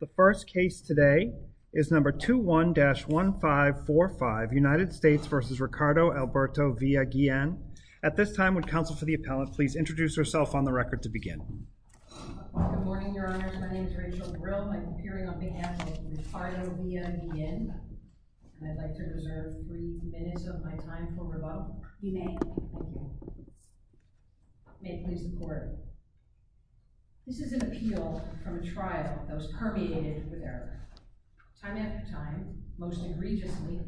The first case today is number 21-1545 United States v. Ricardo Alberto Villa-Guillen. At this time, would counsel for the appellant please introduce herself on the record to begin. Good morning, your honors. My name is Rachel Brill. I'm appearing on behalf of Ricardo Villa-Guillen, and I'd like to reserve three minutes of my time for rebuttal. You may. Thank you. May it please the court. This is an appeal from a trial that was permeated with error. Time after time, most egregiously,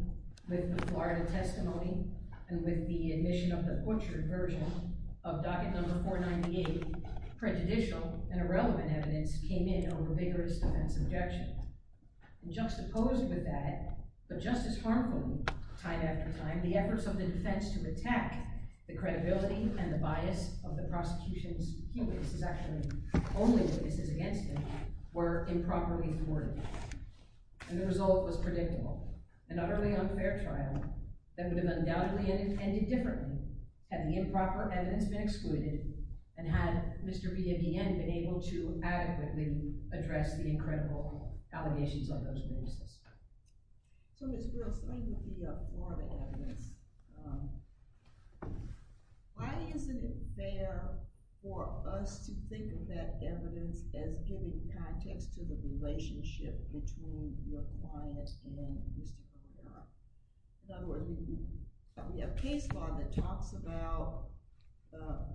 with the Florida testimony and with the admission of the tortured version of docket number 498, prejudicial and irrelevant evidence came in over vigorous defense objection. Juxtaposed with that, but just as harmfully, time after time, the efforts of the defense to attack the credibility and the bias of the prosecution's cases, actually only cases against him, were improperly thwarted. And the result was predictable. An utterly unfair trial that would have undoubtedly ended differently had the improper evidence been excluded and had Mr. Villa-Guillen been able to adequately address the incredible allegations on those cases. So, Ms. Brill, something with the Florida evidence, why isn't it fair for us to think of that evidence as giving context to the relationship between your client and Mr. Villa-Guillen? In other words, we have a case law that talks about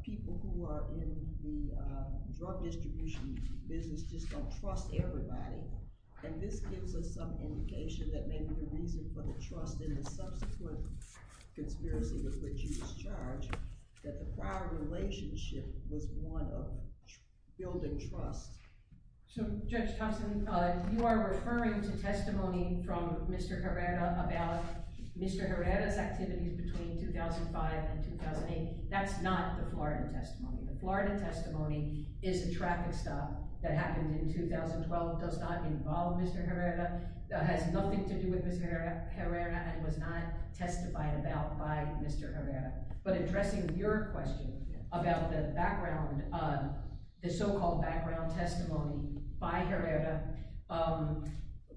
people who are in the drug distribution business just don't trust everybody, and this gives us some indication that maybe the reason for the trust in the subsequent conspiracy with which he was charged, that the prior relationship was one of building trust. So, Judge Thompson, you are referring to testimony from Mr. Herrera about Mr. Herrera's activities between 2005 and 2008. That's not the Florida testimony. The Florida testimony is a traffic stop that happened in 2012, does not involve Mr. Herrera, has nothing to do with Mr. Herrera, and was not testified about by Mr. Herrera. But addressing your question about the so-called background testimony by Herrera,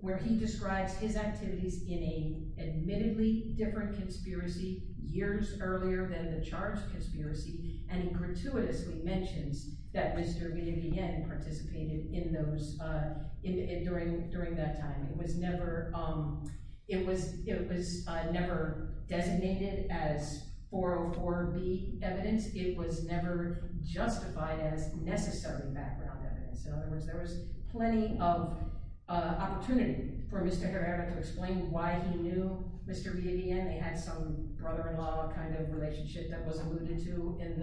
where he describes his activities in an admittedly different conspiracy years earlier than the charged conspiracy, and he gratuitously mentions that Mr. Villa-Guillen participated in those during that time. It was never designated as 404B evidence. It was never justified as necessary background evidence. In other words, there was plenty of opportunity for Mr. Herrera to explain why he knew Mr. Villa-Guillen. They had some brother-in-law kind of relationship that was alluded to in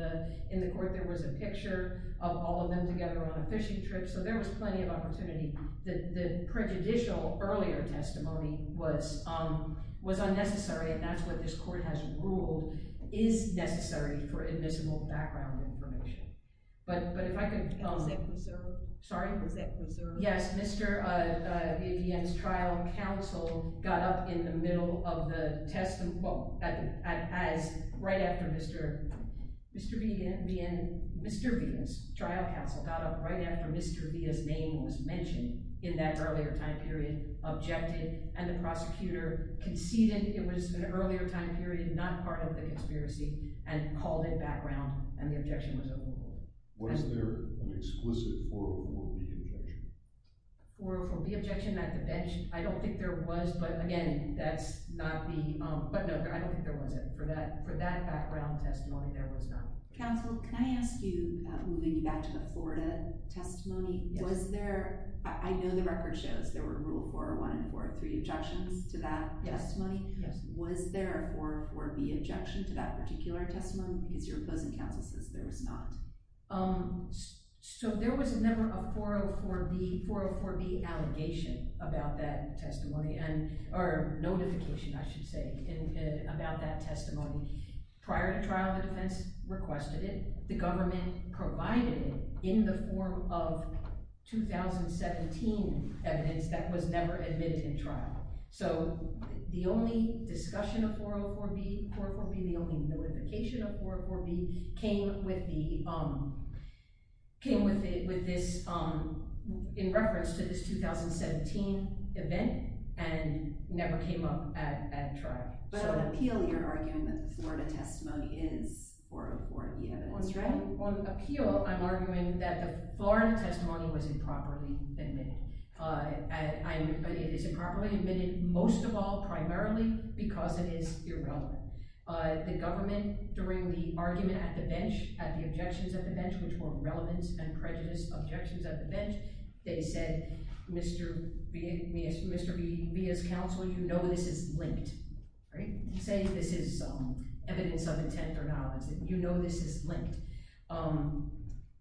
the court. There was a picture of all of them together on a fishing trip, so there was plenty of opportunity. The prejudicial earlier testimony was unnecessary, and that's what this court has ruled is necessary for Yes, Mr. Villa-Guillen's trial counsel got up in the middle of the testimony, well, as right after Mr. Villa's trial counsel got up right after Mr. Villa's name was mentioned in that earlier time period, objected, and the prosecutor conceded it was an earlier time period, not part of the conspiracy, and called it background, and the objection was overruled. Was there an exquisite 404B objection? 404B objection, I don't think there was, but again, that's not the, but no, I don't think there was it. For that background testimony, there was not. Counsel, can I ask you, moving back to the Florida testimony, was there, I know the record shows there were rule 401 and 403 objections to that testimony. Was there a 404B objection to that particular testimony? So there was a number of 404B, 404B allegation about that testimony, and, or notification, I should say, about that testimony. Prior to trial, the defense requested it. The government provided in the form of 2017 evidence that was never admitted in trial, so the only discussion of 404B, 404B, the only notification of 404B, came with this, in reference to this 2017 event, and never came up at trial. But on appeal, you're arguing that Florida testimony is 404B evidence. That's right. On appeal, I'm arguing that the Florida testimony was improperly admitted, most of all, primarily because it is irrelevant. The government, during the argument at the bench, at the objections at the bench, which were relevant and prejudiced objections at the bench, they said, Mr. Bia's counsel, you know this is linked, right? Say this is evidence of intent or knowledge, that you know this is linked.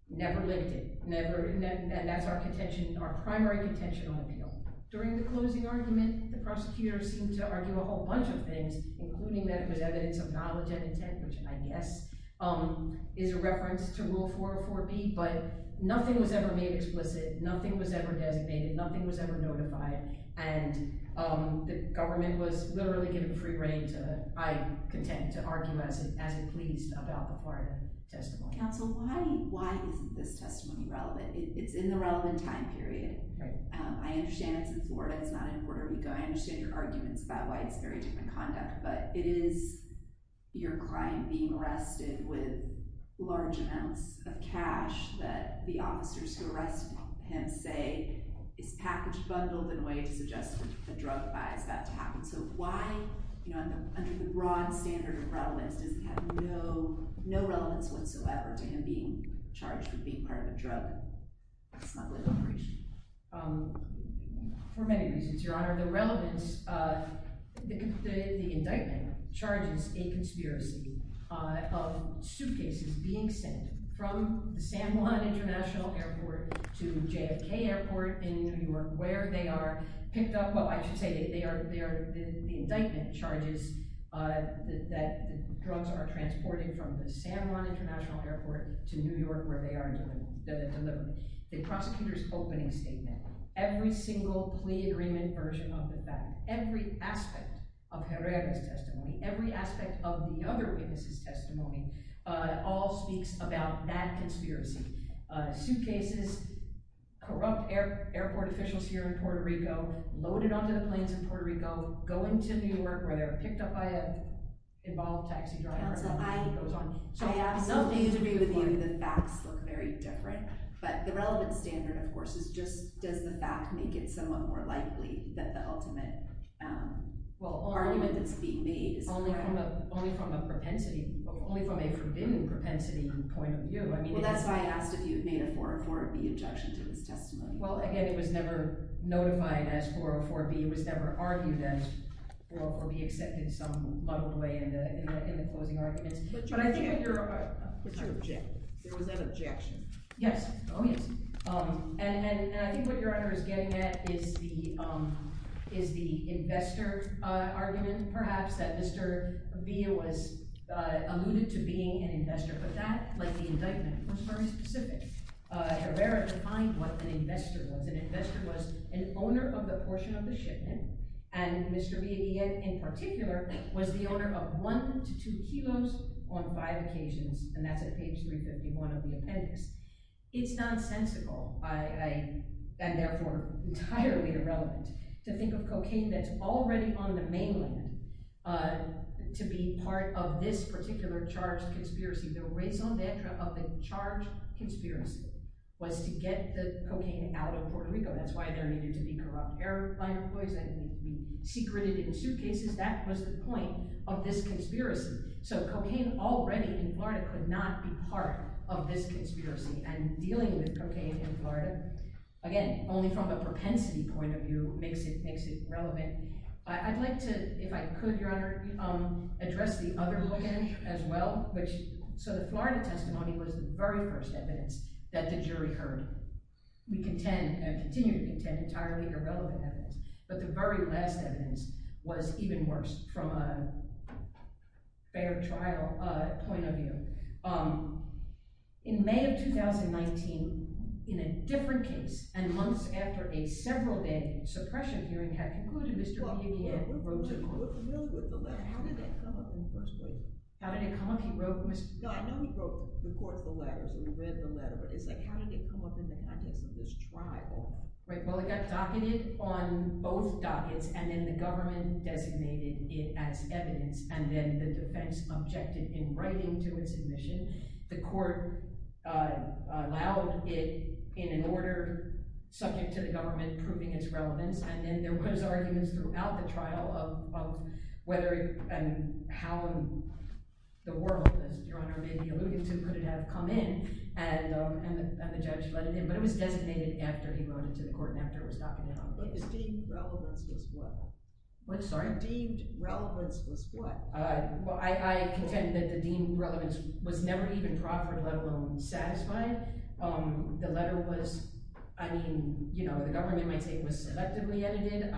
Never linked it, never, and that's our contention, our primary contention on appeal. During the closing argument, the prosecutors seemed to argue a whole bunch of things, including that it was evidence of knowledge and intent, which I guess is a reference to rule 404B, but nothing was ever made explicit, nothing was ever designated, nothing was ever notified, and the government was literally given free reign to, I contend, to argue as it pleased about the Florida testimony. Counsel, why isn't this testimony relevant? It's in the I understand it's in Florida, it's not in Puerto Rico. I understand your arguments about why it's very different conduct, but it is your client being arrested with large amounts of cash that the officers who arrested him say is package bundled in a way to suggest that the drug buys that to happen. So why, you know, under the broad standard of relevance, does it have no no relevance whatsoever to him being charged with being part of a drug smuggling operation? For many reasons, your honor. The relevance, the indictment charges a conspiracy of suitcases being sent from the San Juan International Airport to JFK Airport in New York where they are picked up, well I should say that they are, the indictment charges that drugs are transporting from the San Juan International Airport to New York where they are delivered. The prosecutor's opening statement, every single plea agreement version of the fact, every aspect of Herrera's testimony, every aspect of the other witnesses' testimony, all speaks about that conspiracy. Suitcases, corrupt airport officials here in Puerto Rico, loaded onto the planes in Puerto Rico, going to New York where they're picked up by an involved taxi driver. I have no view to be with you, the facts look very different, but the relevance standard of course is just does the fact make it somewhat more likely that the ultimate argument that's being made is correct? Only from a propensity, only from a forbidden propensity point of view. Well that's why I asked if you've made a 404B objection to this testimony. Well again it was never notified as 404B, it was never argued as, or be accepted some muddled way in the opposing arguments, but I think what you're... But you objected, there was an objection. Yes, oh yes, and I think what your honor is getting at is the investor argument perhaps that Mr. Villa was alluded to being an investor, but that, like the indictment, was very specific. Herrera defined what an investor was. An investor was an owner of the portion of the shipment and Mr. Villa, in particular, was the owner of one to two kilos on five occasions, and that's at page 351 of the appendix. It's nonsensical, and therefore entirely irrelevant, to think of cocaine that's already on the mainland to be part of this particular charged conspiracy. The raison d'etre of the charged conspiracy was to get the cocaine out of Puerto Rico, that's why there needed to be corrupt airplane employees, and we secreted it in suitcases, that was the point of this conspiracy. So cocaine already in Florida could not be part of this conspiracy, and dealing with cocaine in Florida, again only from a propensity point of view, makes it makes it relevant. I'd like to, if I could your honor, address the other bookend as well, which, so the Florida testimony was the very first evidence that the jury heard. We contend, and continue to contend, entirely irrelevant evidence, but the very last evidence was even worse, from a fair trial point of view. In May of 2019, in a different case, and months after a several-day suppression hearing had concluded, Mr. Bohemian wrote to the court. How did that come up in the first place? How did it come up? He wrote to Mr. Bohemian. No, I know he wrote to the court for letters, and read the letter, but it's like, how did it come up in the context of this trial? Right, well it got docketed on both dockets, and then the government designated it as evidence, and then the defense objected in writing to its admission. The court allowed it in an order subject to the government proving its relevance, and then there was arguments throughout the trial of whether, and how the world, as your honor may be alluding to, could it have come in, and the judge let it in, but it was designated after he wrote it to the court, and after it was docketed on. But his deemed relevance was what? What, sorry? Deemed relevance was what? Well, I contend that the letter was not alone satisfied. The letter was, I mean, you know, the government might say it was selectively edited,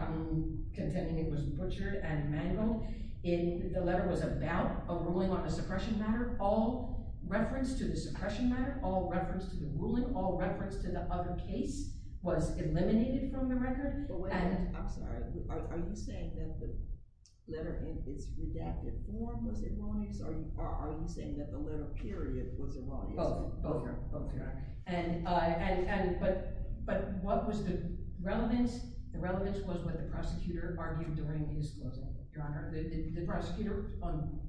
contending it was butchered and mangled. The letter was about a ruling on a suppression matter. All reference to the suppression matter, all reference to the ruling, all reference to the other case was eliminated from the record. I'm sorry, are you saying that the letter in its Both, both, both, your honor. And, but what was the relevance? The relevance was what the prosecutor argued during his closing, your honor. The prosecutor on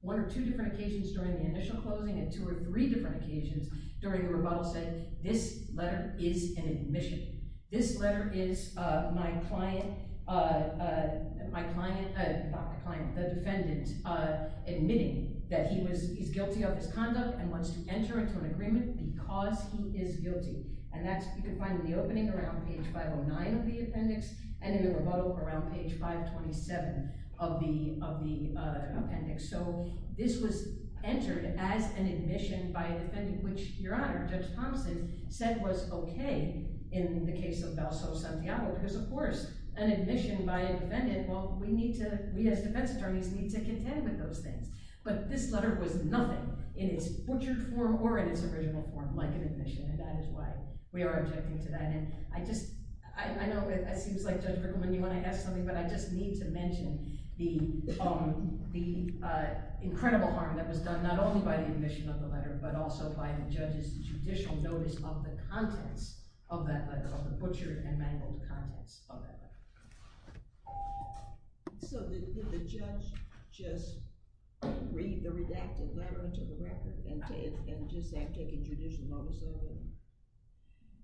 one or two different occasions during the initial closing and two or three different occasions during the rebuttal said, this letter is an admission. This letter is my client, my client, not the client, the defendant, admitting that he was, he's subject to an agreement because he is guilty. And that's, you can find in the opening around page 509 of the appendix and in the rebuttal around page 527 of the, of the appendix. So this was entered as an admission by a defendant, which your honor, Judge Thompson said was okay in the case of Valso Santiago, because of course, an admission by a defendant, well, we need to, we as defense attorneys need to contend with those things. But this letter was nothing in its butchered form or in its original form like an admission. And that is why we are objecting to that. And I just, I know it seems like Judge Rickleman, you want to ask something, but I just need to mention the, the incredible harm that was done, not only by the admission of the letter, but also by the judge's judicial notice of the contents of that butchered and mangled contents of that letter. So did the judge just read the redacted letter into the record and just say I'm taking judicial notice of it?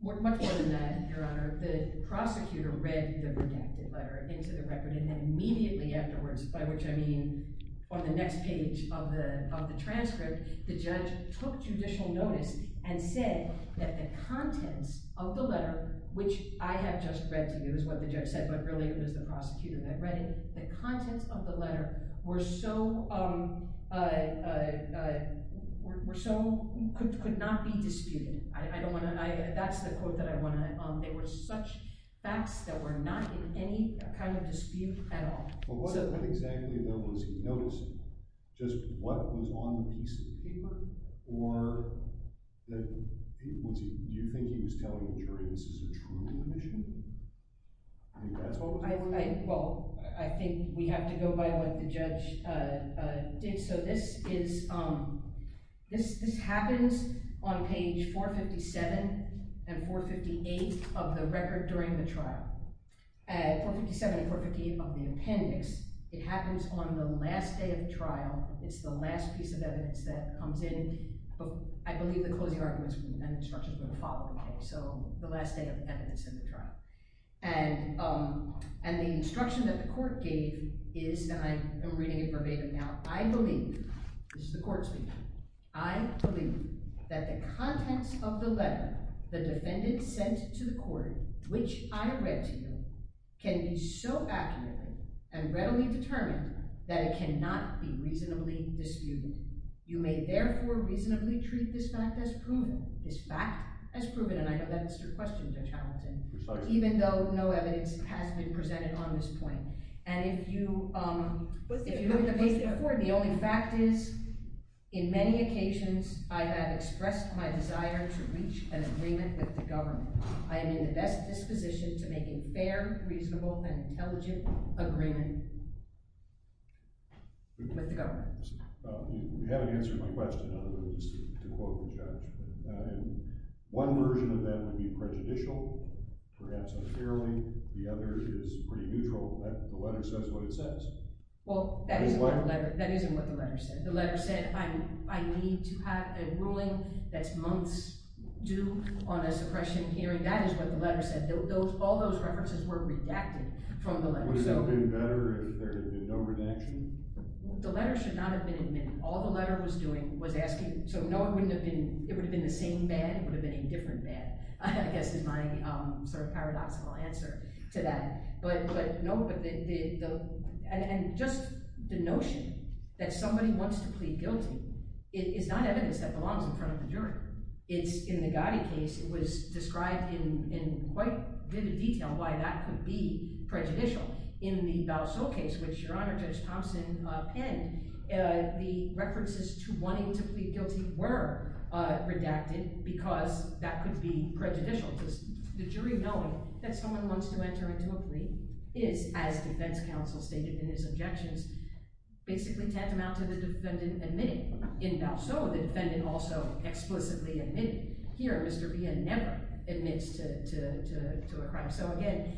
Much more than that, your honor. The prosecutor read the redacted letter into the record and then immediately afterwards, by which I mean on the next page of the, of the transcript, the judge took judicial notice and said that the contents of the letter, which I had just read to you is what the judge said, but really it was the prosecutor that read it, the contents of the letter were so, were so, could not be disputed. I don't want to, that's the quote that I want to, there were such facts that were not in any kind of dispute at all. But what exactly, though, was he noticing? Just what was on the piece of paper or the, do you think he was telling the jury this is a true admission? Well, I think we have to go by what the judge did. So this is, this, this happens on page 457 and 458 of the record during the trial. At 457 and 458 of the appendix, it happens on the last day of trial. It's the last piece of evidence that comes in. I believe the closing arguments and instructions were the following day, so the last day of evidence in the trial. And, and the instruction that the court gave is, and I am reading it verbatim now, I believe, this is the court speaking, I believe that the contents of the letter the defendant sent to the court, which I read to you, can be so accurate and readily determined that it cannot be reasonably disputed. You may therefore reasonably treat this fact as proven, this fact as proven, and I know that's your question, Judge Hamilton, even though no evidence has been presented on this point. And if you, the only fact is, in many occasions, I have expressed my desire to reach an agreement with the government. I am in the best disposition to make a fair, reasonable, and intelligent agreement with the government. You haven't answered my question, to quote the judge. One version of that would be prejudicial, perhaps unfairly, the other is pretty neutral. The letter says what it says. Well, that isn't what the letter said. The letter said I need to have a ruling that's months due on a suppression hearing. That is what the letter said. All those references were redacted from the letter. Would it have been better if there had been no redaction? The letter should not have been admitted. All the letter was asking, so no, it wouldn't have been, it would have been the same man, it would have been a different man, I guess is my sort of paradoxical answer to that. But no, but the, and just the notion that somebody wants to plead guilty is not evidence that belongs in front of the jury. It's in the Gotti case, it was described in quite vivid detail why that could be prejudicial. In the Balsow case, which your Honor, Judge Thompson penned, the references wanting to plead guilty were redacted because that could be prejudicial. The jury knowing that someone wants to enter into a plea is, as defense counsel stated in his objections, basically tantamount to the defendant admitting in Balsow, the defendant also explicitly admitted. Here, Mr. Pia never admits to a crime. So again,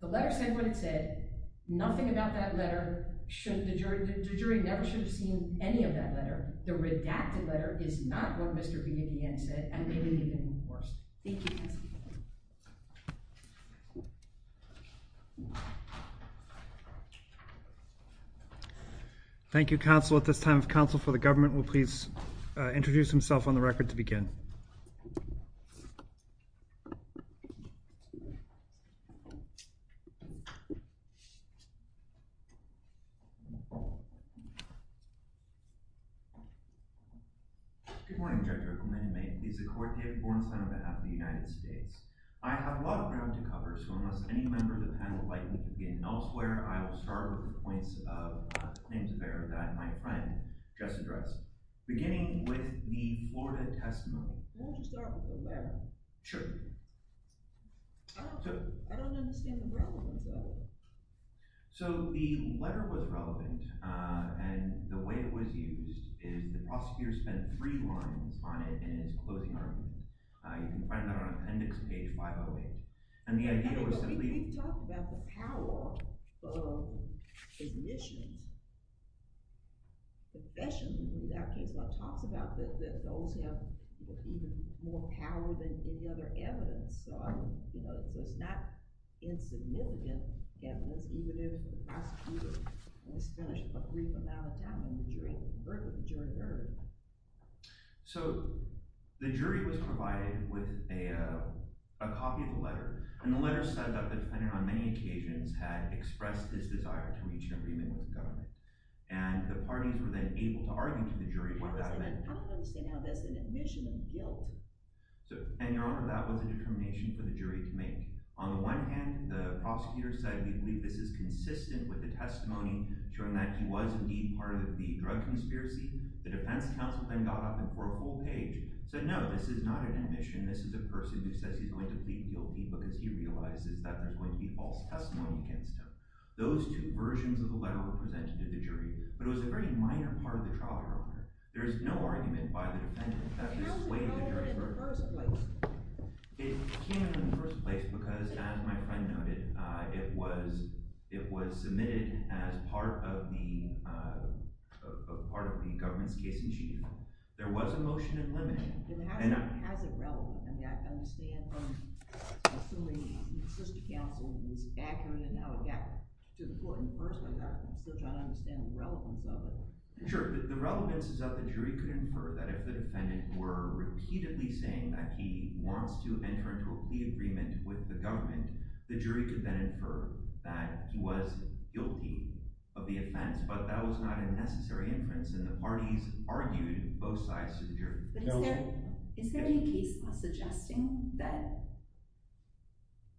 the letter said what it said, nothing about that letter should, the jury never should have seen any of that letter. The redacted letter is not what Mr. Pia DeAnne said and may be even worse. Thank you. Thank you, counsel. At this time, counsel for the government will please begin. Good morning, Judge Rippleman. It is the court here at Borenstein on behalf of the United States. I have a lot of ground to cover, so unless any member of the panel would like me to begin elsewhere, I will start with the points of claims of error that my friend just addressed, beginning with the Florida testimony. Why don't you start with the letter? Sure. Oh, I don't understand the relevance of it. So the letter was relevant, and the way it was used is the prosecutor spent three lines on it in his closing argument. You can find that on appendix page 508. And the idea was simply... But if you talk about the power of admissions, professionally, that case law talks about that those have even more power than any other evidence. So, you know, it's not insignificant evidence, even if the prosecutor has finished a brief amount of time and the jury heard it. So the jury was provided with a copy of the letter, and the letter said that the defendant on many occasions had expressed his desire to reach an And the parties were then able to argue to the jury what that meant. I don't understand how that's an admission of guilt. And, Your Honor, that was a determination for the jury to make. On the one hand, the prosecutor said, we believe this is consistent with the testimony showing that he was indeed part of the drug conspiracy. The defense counsel then got up and tore a whole page, said, no, this is not an admission. This is a person who says he's going to plead guilty because he realizes that there's going to be false testimony against him. Those two versions of the letter were presented to the jury, but it was a very minor part of the trial. There is no argument by the defendant. It came in the first place because, as my friend noted, it was it was submitted as part of the part of the government's case in Geneva. There was a motion in limine. How is it relevant? I mean, I understand from assuming the assistant counsel was accurate and how it got to the court in the first place. I still don't understand the relevance of it. Sure. The relevance is that the jury could infer that if the defendant were repeatedly saying that he wants to enter into a plea agreement with the government, the jury could then infer that he was guilty of the offense. But that was not a necessary inference. And the parties argued both sides to the jury. But is there any case suggesting that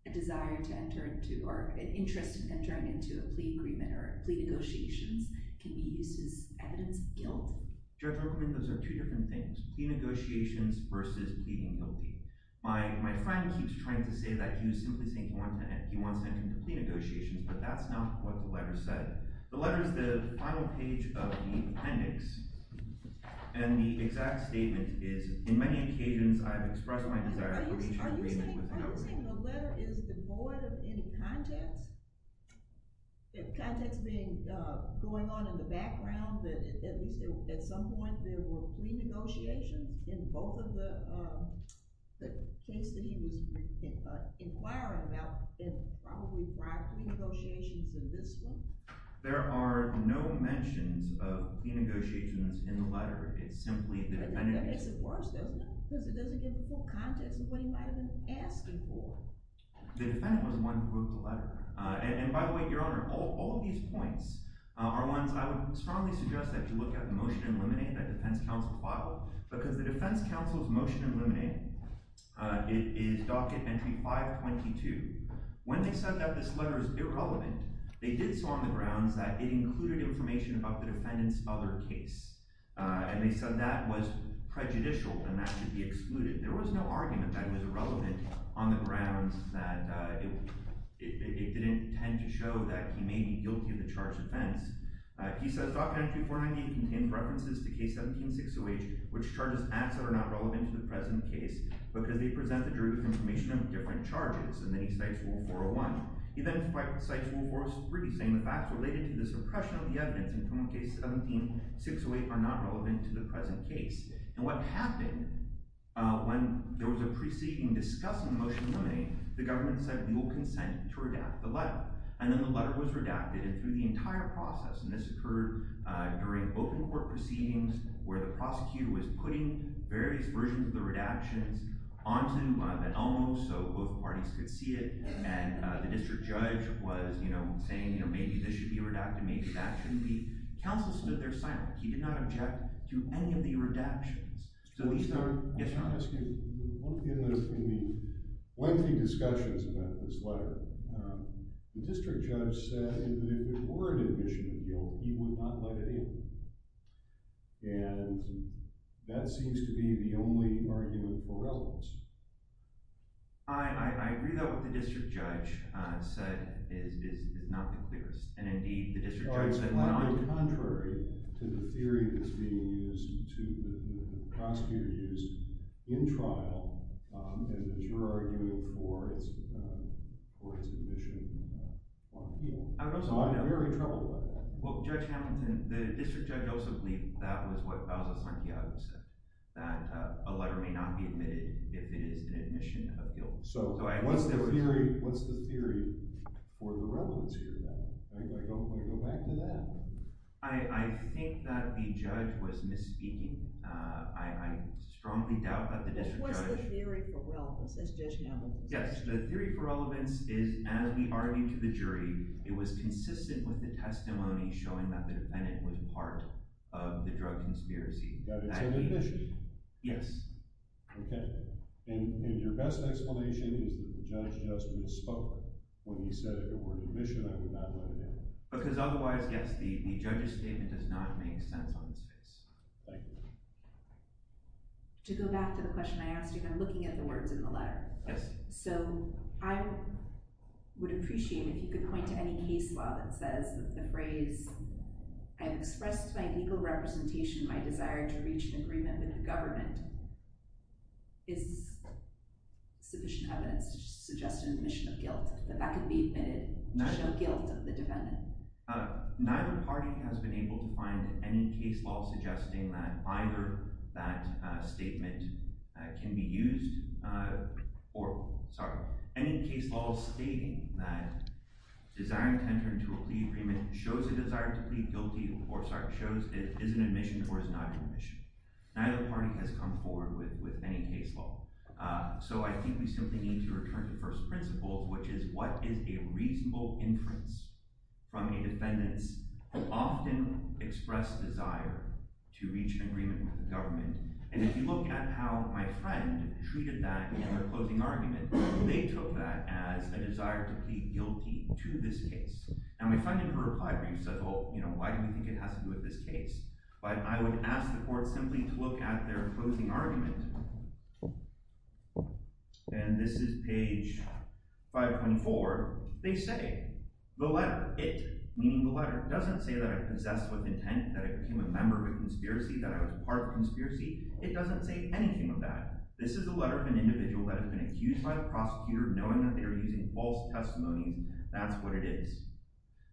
a desire to enter into or an interest in entering into a plea agreement or plea negotiations can be used as evidence of guilt? Judge Oakwood, those are two different things. Plea negotiations versus pleading guilty. My friend keeps trying to say that he was simply saying he wants to enter into plea negotiations, but that's not what the letter said. The letter is the final page of the appendix, and the exact statement is, in many occasions I've expressed my desire to reach an agreement with the government. Are you saying the letter is devoid of any context? The context being going on in the background that at least at some point there were plea negotiations in both of the cases that he was inquiring about and probably prior plea negotiations in this one? There are no mentions of plea negotiations in the letter. It's simply the appendix. That makes it worse, doesn't it? Because it doesn't give the full context of what he might have been asking for. The defendant was the one who wrote the letter. And by the way, your honor, all these points are ones I would strongly suggest that you look at the motion and eliminate that defense counsel file because the defense counsel's motion eliminating it is docket entry 522. When they said that this they did so on the grounds that it included information about the defendant's other case. And they said that was prejudicial and that should be excluded. There was no argument that it was irrelevant on the grounds that it didn't tend to show that he may be guilty of the charged offense. He says docket entry 498 contained references to case 17-608 which charges acts that are not relevant to the present case because they present the derivative information of different charges. And then he cites rule 401. He then cites rule 403 saying the facts related to the suppression of the evidence in case 17-608 are not relevant to the present case. And what happened when there was a proceeding discussing motion eliminate, the government said we will consent to redact the letter. And then the letter was redacted and through the entire process, and this occurred during open court proceedings where the prosecutor was putting various versions of the and the district judge was, you know, saying, you know, maybe this should be redacted, maybe that shouldn't be. Counsel stood there silent. He did not object to any of the redactions. So he started Yes, your honor. I'm asking, in the lengthy discussions about this letter, the district judge said that if it were an admission of guilt, he would not let it in. And that seems to be the argument for relevance. I agree that what the district judge said is not the clearest. And indeed, the district judge said, contrary to the theory that's being used to the prosecutor used in trial, to argue for his admission. I'm very troubled by that. Well, Judge Hamilton, the district judge also believed that was what Fausto Santiago said, that a letter may not be admitted if it is an admission of guilt. So what's the theory? What's the theory for the relevance here? I don't want to go back to that. I think that the judge was misspeaking. I strongly doubt that the district judge... What's the theory for relevance, as Judge Hamilton said? Yes, the theory for relevance is, as we argued to the jury, it was consistent with the testimony showing that the defendant was part of the drug conspiracy. That it's an admission? Yes. Okay. And your best explanation is that the judge just misspoke when he said it was an admission, I would not let it in. Because otherwise, yes, the judge's statement does not make sense on this case. Thank you. To go back to the question I asked you, I'm looking at the words in the letter. Yes. So I would appreciate if you could point to any case law that says that the phrase, I've expressed my legal representation, my desire to reach an agreement with the government, is sufficient evidence to suggest an admission of guilt, that that could be admitted, an admission of guilt of the defendant. Neither party has been able to find any case law suggesting that either that statement can be used, or, sorry, any case law stating that desire to enter into a plea agreement shows a desire to plead guilty, or sorry, shows it is an admission or is not an admission. Neither party has come forward with any case law. So I think we simply need to return to first principles, which is what is a reasonable inference from a defendant's often expressed desire to reach an agreement with the government. And if you look at how my friend treated that in their closing argument, they took that as a desire to plead guilty to this case. And my friend in her reply brief said, well, you know, why do we think it has to do with this case? But I would ask the court simply to look at their closing argument. And this is page 524. They say, the letter, it, meaning the letter, doesn't say that I possessed with intent, that I became a member of a conspiracy, that I was part of a conspiracy. It doesn't say anything of that. This is the letter of an individual that has been accused by the prosecutor, knowing that they are using false testimonies. That's what it is.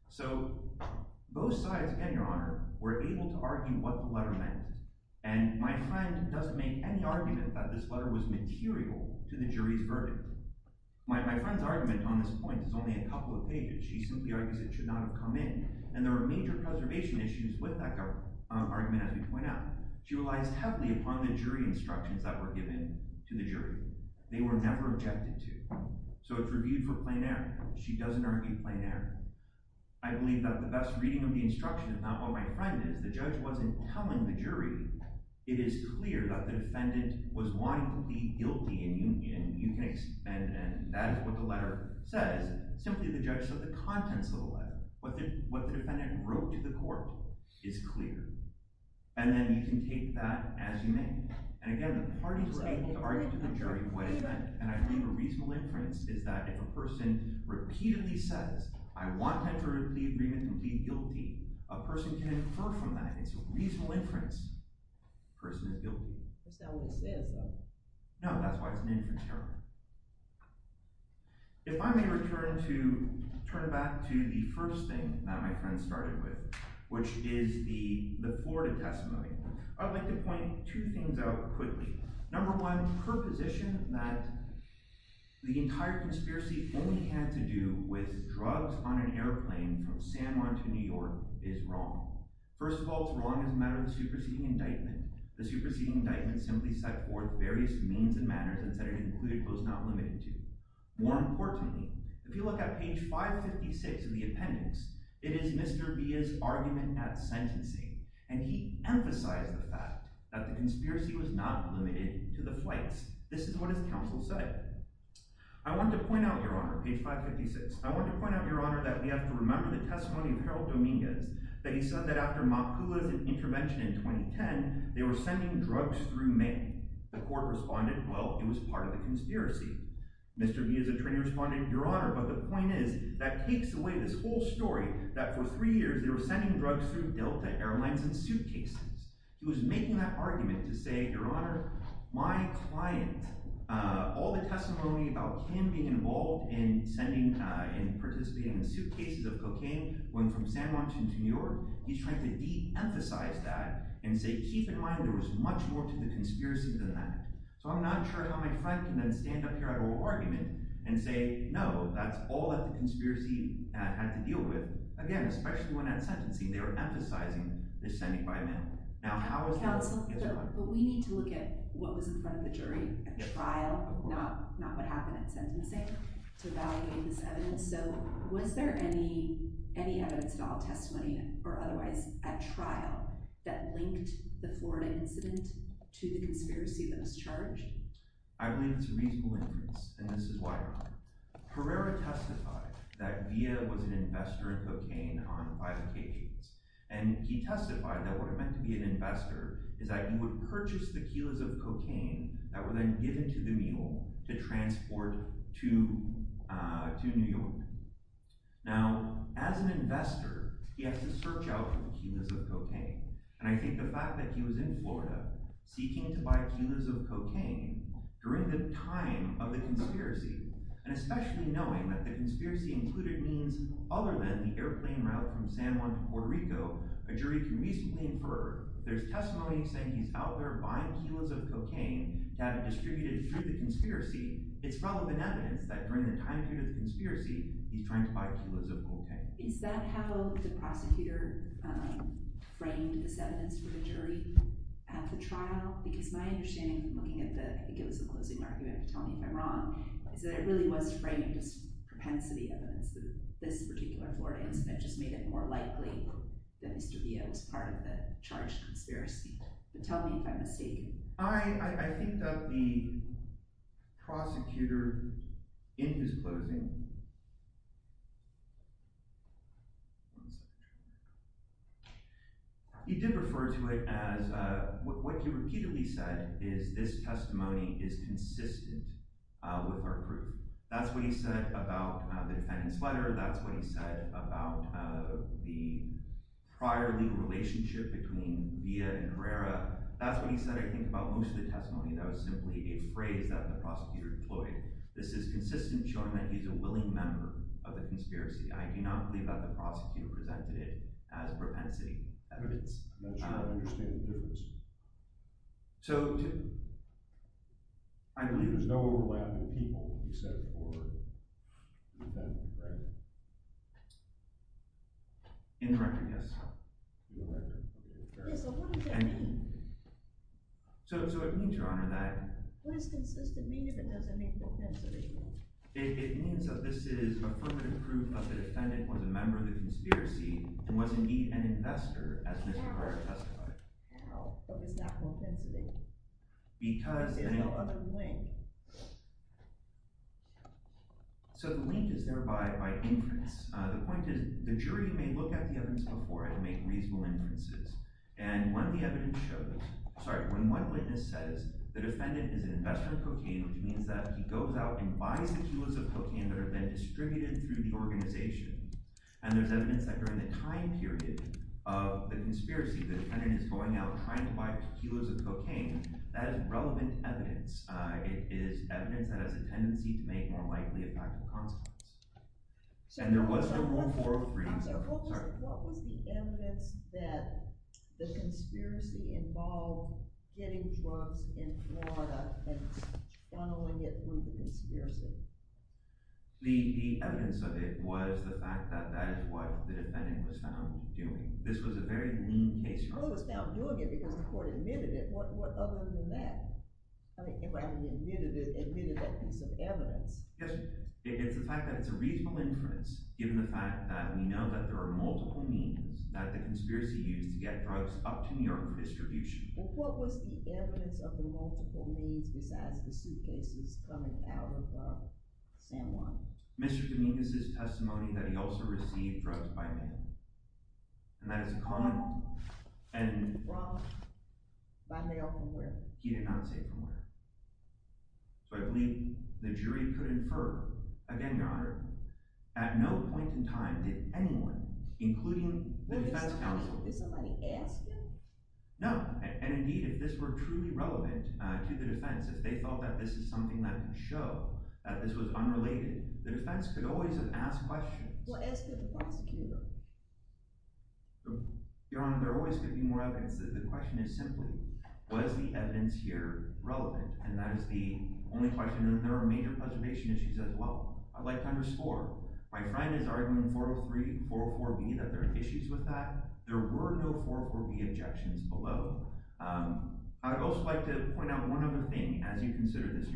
So both sides, again, Your Honor, were able to argue what the letter meant. And my friend doesn't make any argument that this letter was material to the My friend's argument on this point is only a couple of pages. She simply argues it should not have come in. And there are major preservation issues with that argument, as we point out. She relies heavily upon the jury instructions that were given to the jury. They were never objected to. So it's reviewed for plain error. She doesn't argue plain error. I believe that the best reading of the instruction is not what my friend is. The judge wasn't telling the jury. It is clear that the defendant was wanting to plead guilty. And that is what the letter says. Simply the judge said the contents of the letter, what the defendant wrote to the court, is clear. And then you can take that as you may. And again, the parties were able to argue to the jury what it meant. And I believe a reasonable inference is that if a person repeatedly says, I want to enter the It's not what it says though. No, that's why it's an inference argument. If I may return to turn it back to the first thing that my friend started with, which is the Florida testimony. I'd like to point two things out quickly. Number one, her position that the entire conspiracy only had to do with drugs on an airplane from San Juan to New York is wrong. First of all, it's wrong as a matter of the superseding indictment. The superseding indictment simply set forth various means and manners and said it included those not limited to. More importantly, if you look at page 556 of the appendix, it is Mr. Villa's argument at sentencing. And he emphasized the fact that the conspiracy was not limited to the flights. This is what his counsel said. I want to point out, Your Honor, page 556. I want to point out, Your Honor, that we have to remember the testimony of Harold Dominguez, that he said that after Makula's intervention in 2010, they were sending drugs through mail. The court responded, well, it was part of the conspiracy. Mr. Villa's attorney responded, Your Honor, but the point is, that takes away this whole story that for three years they were sending drugs through Delta Airlines in suitcases. He was making that argument to say, Your Honor, my client, all the testimony about him being involved in sending, uh, in participating in suitcases of cocaine going from San Juan to New York, he's trying to de-emphasize that and say, keep in mind there was much more to the conspiracy than that. So I'm not sure how my client can then stand up here at oral argument and say, no, that's all that the conspiracy had to deal with. Again, especially when at sentencing, they were emphasizing they're sending by mail. Now, how is that? Counsel, we need to look at what was in front of the jury at trial, not what happened at sentencing, to evaluate this evidence. So was there any any evidence at all testimony or otherwise at trial that linked the Florida incident to the conspiracy that was charged? I believe it's a reasonable inference, and this is why, Your Honor. Herrera testified that Villa was an investor in cocaine on five occasions, and he testified that what it meant to be an investor is that you would purchase the kilos of cocaine that were then given to the mule to transport to, uh, to New York. Now, as an investor, he has to search out for the kilos of cocaine, and I think the fact that he was in Florida seeking to buy kilos of cocaine during the time of the conspiracy, and especially knowing that the conspiracy included means other than the There's testimony saying he's out there buying kilos of cocaine to have distributed through the conspiracy. It's relevant evidence that during the time period of the conspiracy, he's trying to buy kilos of cocaine. Is that how the prosecutor framed this evidence for the jury at the trial? Because my understanding, looking at the, I think it was the closing argument, you have to tell me if I'm wrong, is that it really was framing just propensity evidence that this particular Florida incident just made it more likely that Mr. Villa was part of the charged conspiracy? Tell me if I'm mistaken. I think that the prosecutor in his closing he did refer to it as, uh, what he repeatedly said is this testimony is consistent with our the prior legal relationship between Villa and Carrera. That's what he said, I think, about most of the testimony. That was simply a phrase that the prosecutor deployed. This is consistent showing that he's a willing member of the conspiracy. I do not believe that the prosecutor presented it as propensity evidence. I'm not sure I understand the difference. So, I believe there's no overlap between the people you said before and the defendant, right? Indirectly, yes. So, what does that mean? So, it means, your honor, that... What does consistent mean if it doesn't mean propensity? It means that this is affirmative proof that the defendant was a member of the conspiracy and was indeed an investor as Mr. Carrera testified. How? What was that propensity? Because there's no other link. So, the link is there by inference. The point is, the jury may look at the evidence before and make reasonable inferences. And when the evidence shows, sorry, when one witness says the defendant is an investor in cocaine, which means that he goes out and buys the kilos of cocaine that are then distributed through the organization, and there's evidence that during the time period of the cocaine, that is relevant evidence. It is evidence that has a tendency to make more likely a practical consequence. And there was no 403. What was the evidence that the conspiracy involved getting drugs in Florida and funneling it through the conspiracy? The evidence of it was the fact that that is what the defendant was found doing. This was a very lean case. Well, he was found doing it because the court admitted it. What other than that? I mean, rather than admitted it, admitted that piece of evidence. Yes, it's the fact that it's a reasonable inference given the fact that we know that there are multiple means that the conspiracy used to get drugs up to New York distribution. Well, what was the evidence of the multiple means besides the suitcases coming out of San Juan? Mr. Dominguez's testimony that he also received drugs by mail. And that is a common... Wrong. By mail from where? He did not say from where. So I believe the jury could infer, again, Your Honor, at no point in time did anyone, including the defense counsel... Did somebody ask him? No, and indeed, if this were truly relevant to the defense, if they felt that this is something that could show that this was unrelated, the defense could always have asked questions. What asked the prosecutor? Your Honor, there always could be more evidence. The question is simply, was the evidence here relevant? And that is the only question. And there are major preservation issues as well. I'd like to underscore, my friend is arguing 403, 404B, that there are issues with that. There were no 404B objections below. I'd also like to point out one other thing, as you consider this,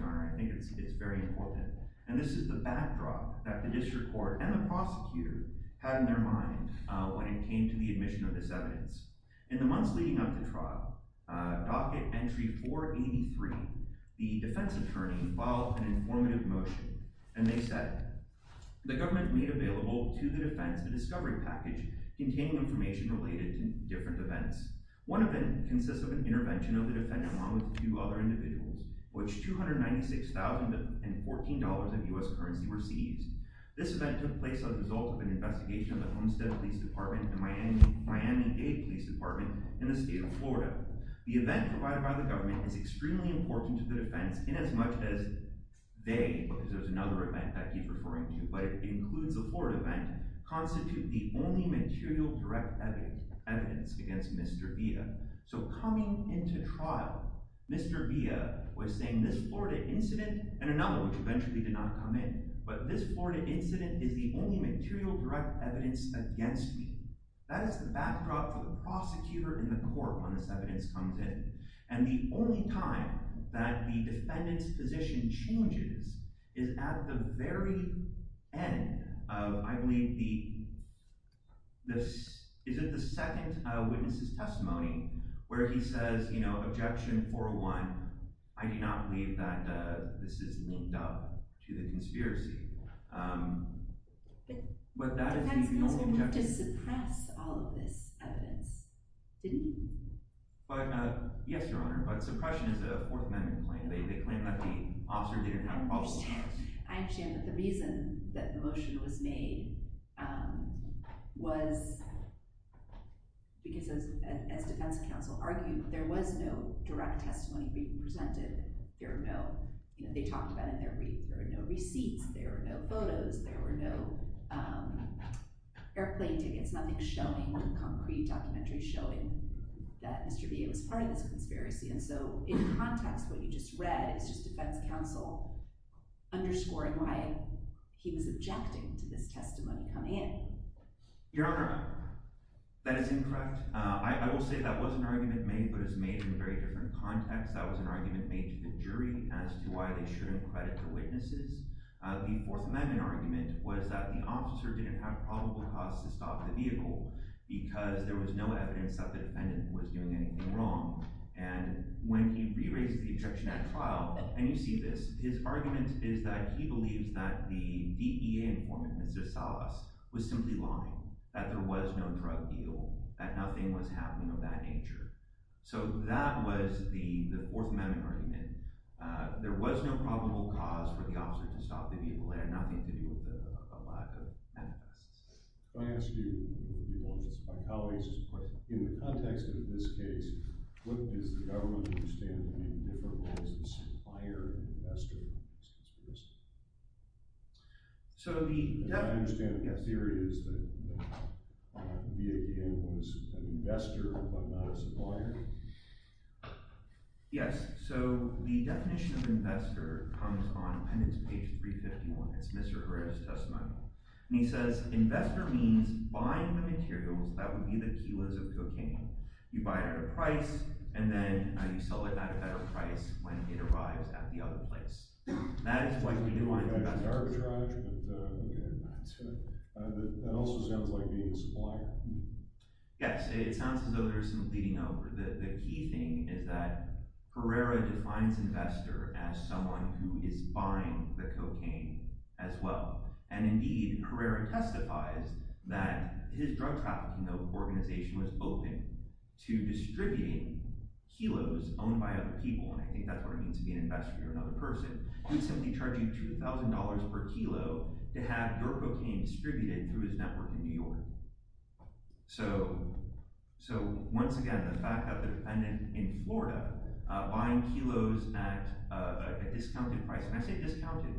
and this is the backdrop that the district court and the prosecutor had in their mind when it came to the admission of this evidence. In the months leading up to trial, docket entry 483, the defense attorney filed an informative motion, and they said, the government made available to the defense a discovery package containing information related to different events. One of them consists of an incident where $14 of U.S. currency were seized. This event took place as a result of an investigation of the Homestead Police Department and Miami Dade Police Department in the state of Florida. The event provided by the government is extremely important to the defense, inasmuch as they, because there's another event that I keep referring to, but it includes the Florida event, constitute the only material direct evidence against Mr. Villa. So coming into trial, Mr. Villa was saying, this Florida incident, and another which eventually did not come in, but this Florida incident is the only material direct evidence against me. That is the backdrop for the prosecutor and the court when this evidence comes in, and the only time that the defendant's position changes is at the very end of, I believe, the, is it the second witness's testimony, where he says, you know, objection 401, I do not believe that this is linked up to the conspiracy. But that is the only objection. The defense was going to have to suppress all of this evidence, didn't it? But, yes, Your Honor, but suppression is a Fourth Amendment claim. They claim that the officer didn't have a problem with this. I understand that the reason that the motion was made was because, as defense counsel argued, there was no direct testimony being presented. There were no, you know, they talked about it in their brief, there were no receipts, there were no photos, there were no airplane tickets, nothing showing, no concrete documentary showing that Mr. Villa was part of this conspiracy. And so, in context, what you just read is just defense counsel underscoring why he was objecting to this testimony coming in. Your Honor, that is incorrect. I will say that was an argument made, but it was made in a very different context. That was an argument made to the jury as to why they shouldn't credit the witnesses. The Fourth Amendment argument was that the officer didn't have probable cause to stop the vehicle because there was no evidence that the defendant was doing anything wrong. And when he re-raises the objection at trial, and you see this, his argument is that he believes that the DEA informant, Mr. Salvas, was simply lying, that there was no drug deal, that nothing was happening of that nature. So that was the Fourth Amendment argument. There was no probable cause for the officer to stop the vehicle. It had nothing to do with the lack of evidence. If I ask you, and maybe one of my colleagues has a question, in the context of this case, what does the government understand to be the difference between a supplier and an investor? I understand the theory is that the DEA informant is an investor but not a supplier? Yes. So the definition of investor comes on Penance page 351. It's Mr. Herrera's testimony. And he says, investor means buying the materials that would be the kilos of cocaine. You buy it at a price, and then you sell it at a better price when it arrives at the other place. That is what you do on an investor. I could arbitrage, but that also sounds like being a supplier. Yes. It sounds as though there's some bleeding over. The key thing is that Herrera defines investor as someone who is buying the cocaine as well. And indeed, Herrera testifies that his drug trafficking organization was open to distributing kilos owned by other people. And I think that's what it means to be an investor. You're another person. He'd simply charge you $2,000 per kilo to have your cocaine distributed through his network in New York. So once again, the fact that the defendant in Florida buying kilos at a discounted price – and I say discounted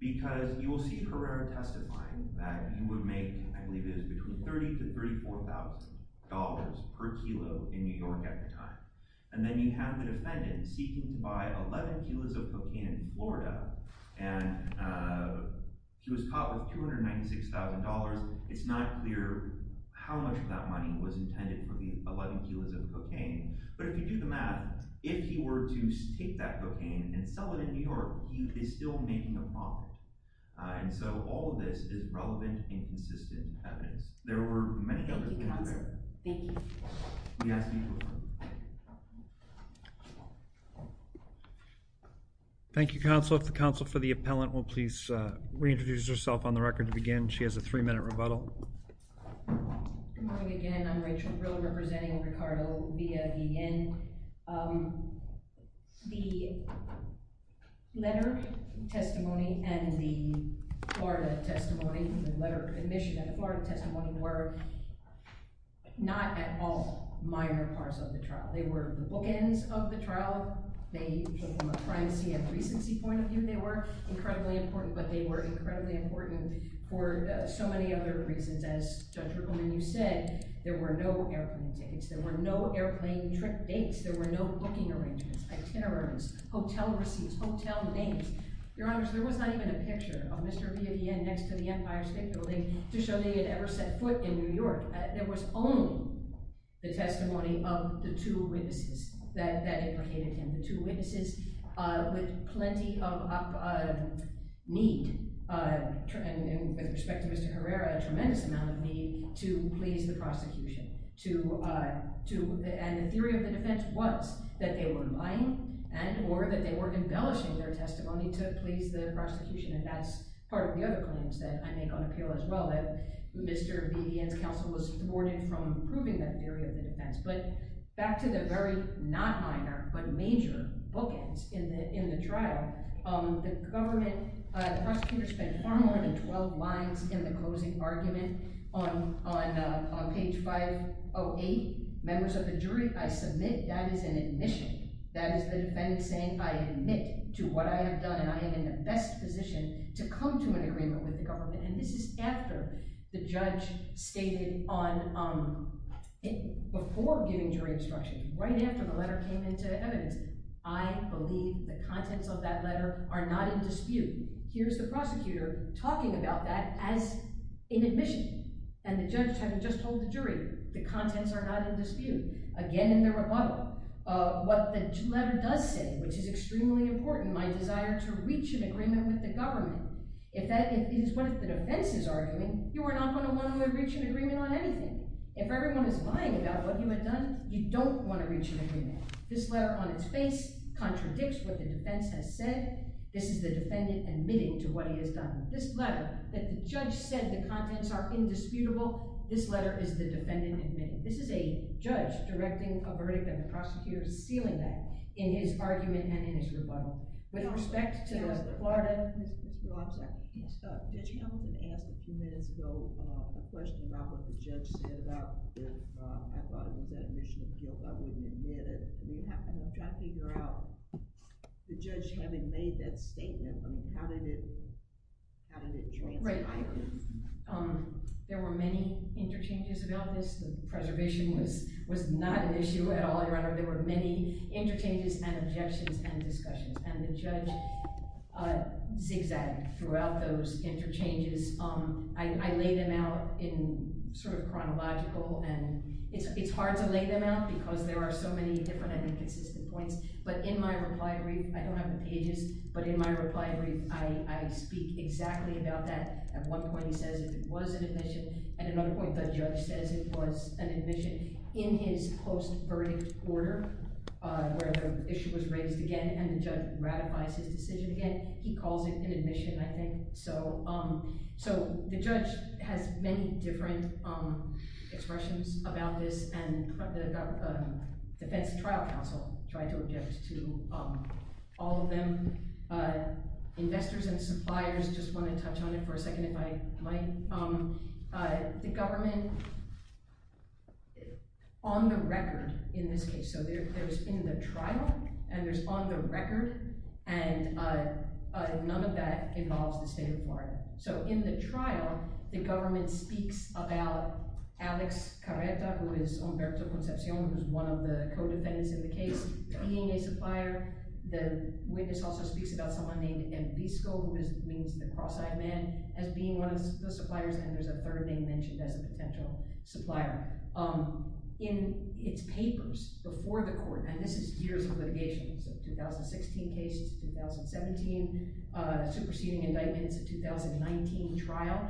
because you will see Herrera testifying that he would make – I believe it was between $30,000 to $34,000 per kilo in New York at the time. And then you have the defendant seeking to buy 11 kilos of cocaine in Florida, and he was caught with $296,000. It's not clear how much of that money was intended for the 11 kilos of cocaine. But if you do the math, if he were to take that cocaine and sell it in New York, he is still making a profit. And so all of this is relevant and consistent evidence. There were many others. Thank you, counsel. Thank you. Thank you, counsel. If the counsel for the appellant will please reintroduce herself on the record to begin. She has a three-minute rebuttal. Good morning again. I'm Rachel Brill representing Ricardo via the N. The letter testimony and the Florida testimony – the letter admission and the Florida testimony were not at all minor parts of the trial. They were the bookends of the trial. They – from a primacy and recency point of view, they were incredibly important. But they were incredibly important for so many other reasons. As Judge Rickleman, you said, there were no airplane tickets. There were no airplane trip dates. There were no booking arrangements, itineraries, hotel receipts, hotel names. Your Honors, there was not even a picture of Mr. Via the N. next to the Empire State Building to show that he had ever set foot in New York. There was only the testimony of the two witnesses that indicated him. The two witnesses with plenty of need, with respect to Mr. Herrera, a tremendous amount of need to please the prosecution. And the theory of the defense was that they were lying and or that they were embellishing their testimony to please the prosecution. And that's part of the other claims that I make on appeal as well, that Mr. Via the N.'s counsel was thwarted from proving that theory of the defense. But back to the very not minor but major bookends in the trial, the government prosecutors spent far more than 12 lines in the closing argument on page 508. Members of the jury, I submit that is an admission. That is the defendant saying I admit to what I have done and I am in the best position to come to an agreement with the government. And this is after the judge stated on – before giving jury instruction, right after the letter came into evidence, I believe the contents of that letter are not in dispute. Here's the prosecutor talking about that as an admission. And the judge had just told the jury the contents are not in dispute. Again, in the rebuttal, what the letter does say, which is extremely important, my desire to reach an agreement with the government. If that is what the defense is arguing, you are not going to want to reach an agreement on anything. If everyone is lying about what you have done, you don't want to reach an agreement. This letter on its face contradicts what the defense has said. This is the defendant admitting to what he has done. This letter that the judge said the contents are indisputable, this letter is the defendant admitting. This is a judge directing a verdict and the prosecutor is sealing that in his argument and in his rebuttal. With respect to the Florida – Mr. Officer, Judge Hamilton asked a few minutes ago a question about what the judge said about their – I thought it was that admission of guilt. I wouldn't admit it. We have to figure out, the judge having made that statement, I mean, how did it – how did it translate? There were many interchanges about this. Preservation was not an issue at all, Your Honor. There were many interchanges and objections and discussions, and the judge zigzagged throughout those interchanges. I laid them out in sort of chronological, and it's hard to lay them out because there are so many different and inconsistent points. But in my reply brief – I don't have the pages, but in my reply brief, I speak exactly about that. At one point, he says it was an admission. At another point, the judge says it was an admission. In his post-verdict order, where the issue was raised again and the judge ratifies his decision again, he calls it an admission, I think. So the judge has many different expressions about this, and the Defense Trial Council tried to object to all of them. Investors and suppliers just want to touch on it for a second, if I might. The government, on the record in this case – so there's in the trial, and there's on the record, and none of that involves the state of Florida. So in the trial, the government speaks about Alex Carreta, who is Humberto Concepcion, who is one of the co-defendants in the case, being a supplier. The witness also speaks about someone named Envisco, who means the cross-eyed man, as being one of the suppliers. And there's a third name mentioned as a potential supplier. In its papers before the court – and this is years of litigation, so 2016 cases, 2017, superseding indictments, a 2019 trial.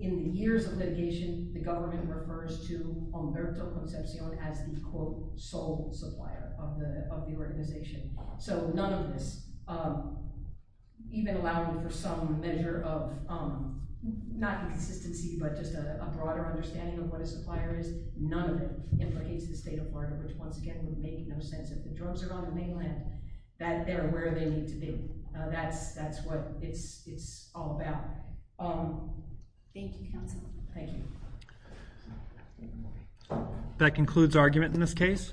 In the years of litigation, the government refers to Humberto Concepcion as the, quote, sole supplier of the organization. So none of this, even allowing for some measure of, not inconsistency, but just a broader understanding of what a supplier is, none of it implicates the state of Florida, which, once again, would make no sense if the drugs are on the mainland, that they're where they need to be. That's what it's all about. Thank you, counsel. Thank you. That concludes argument in this case.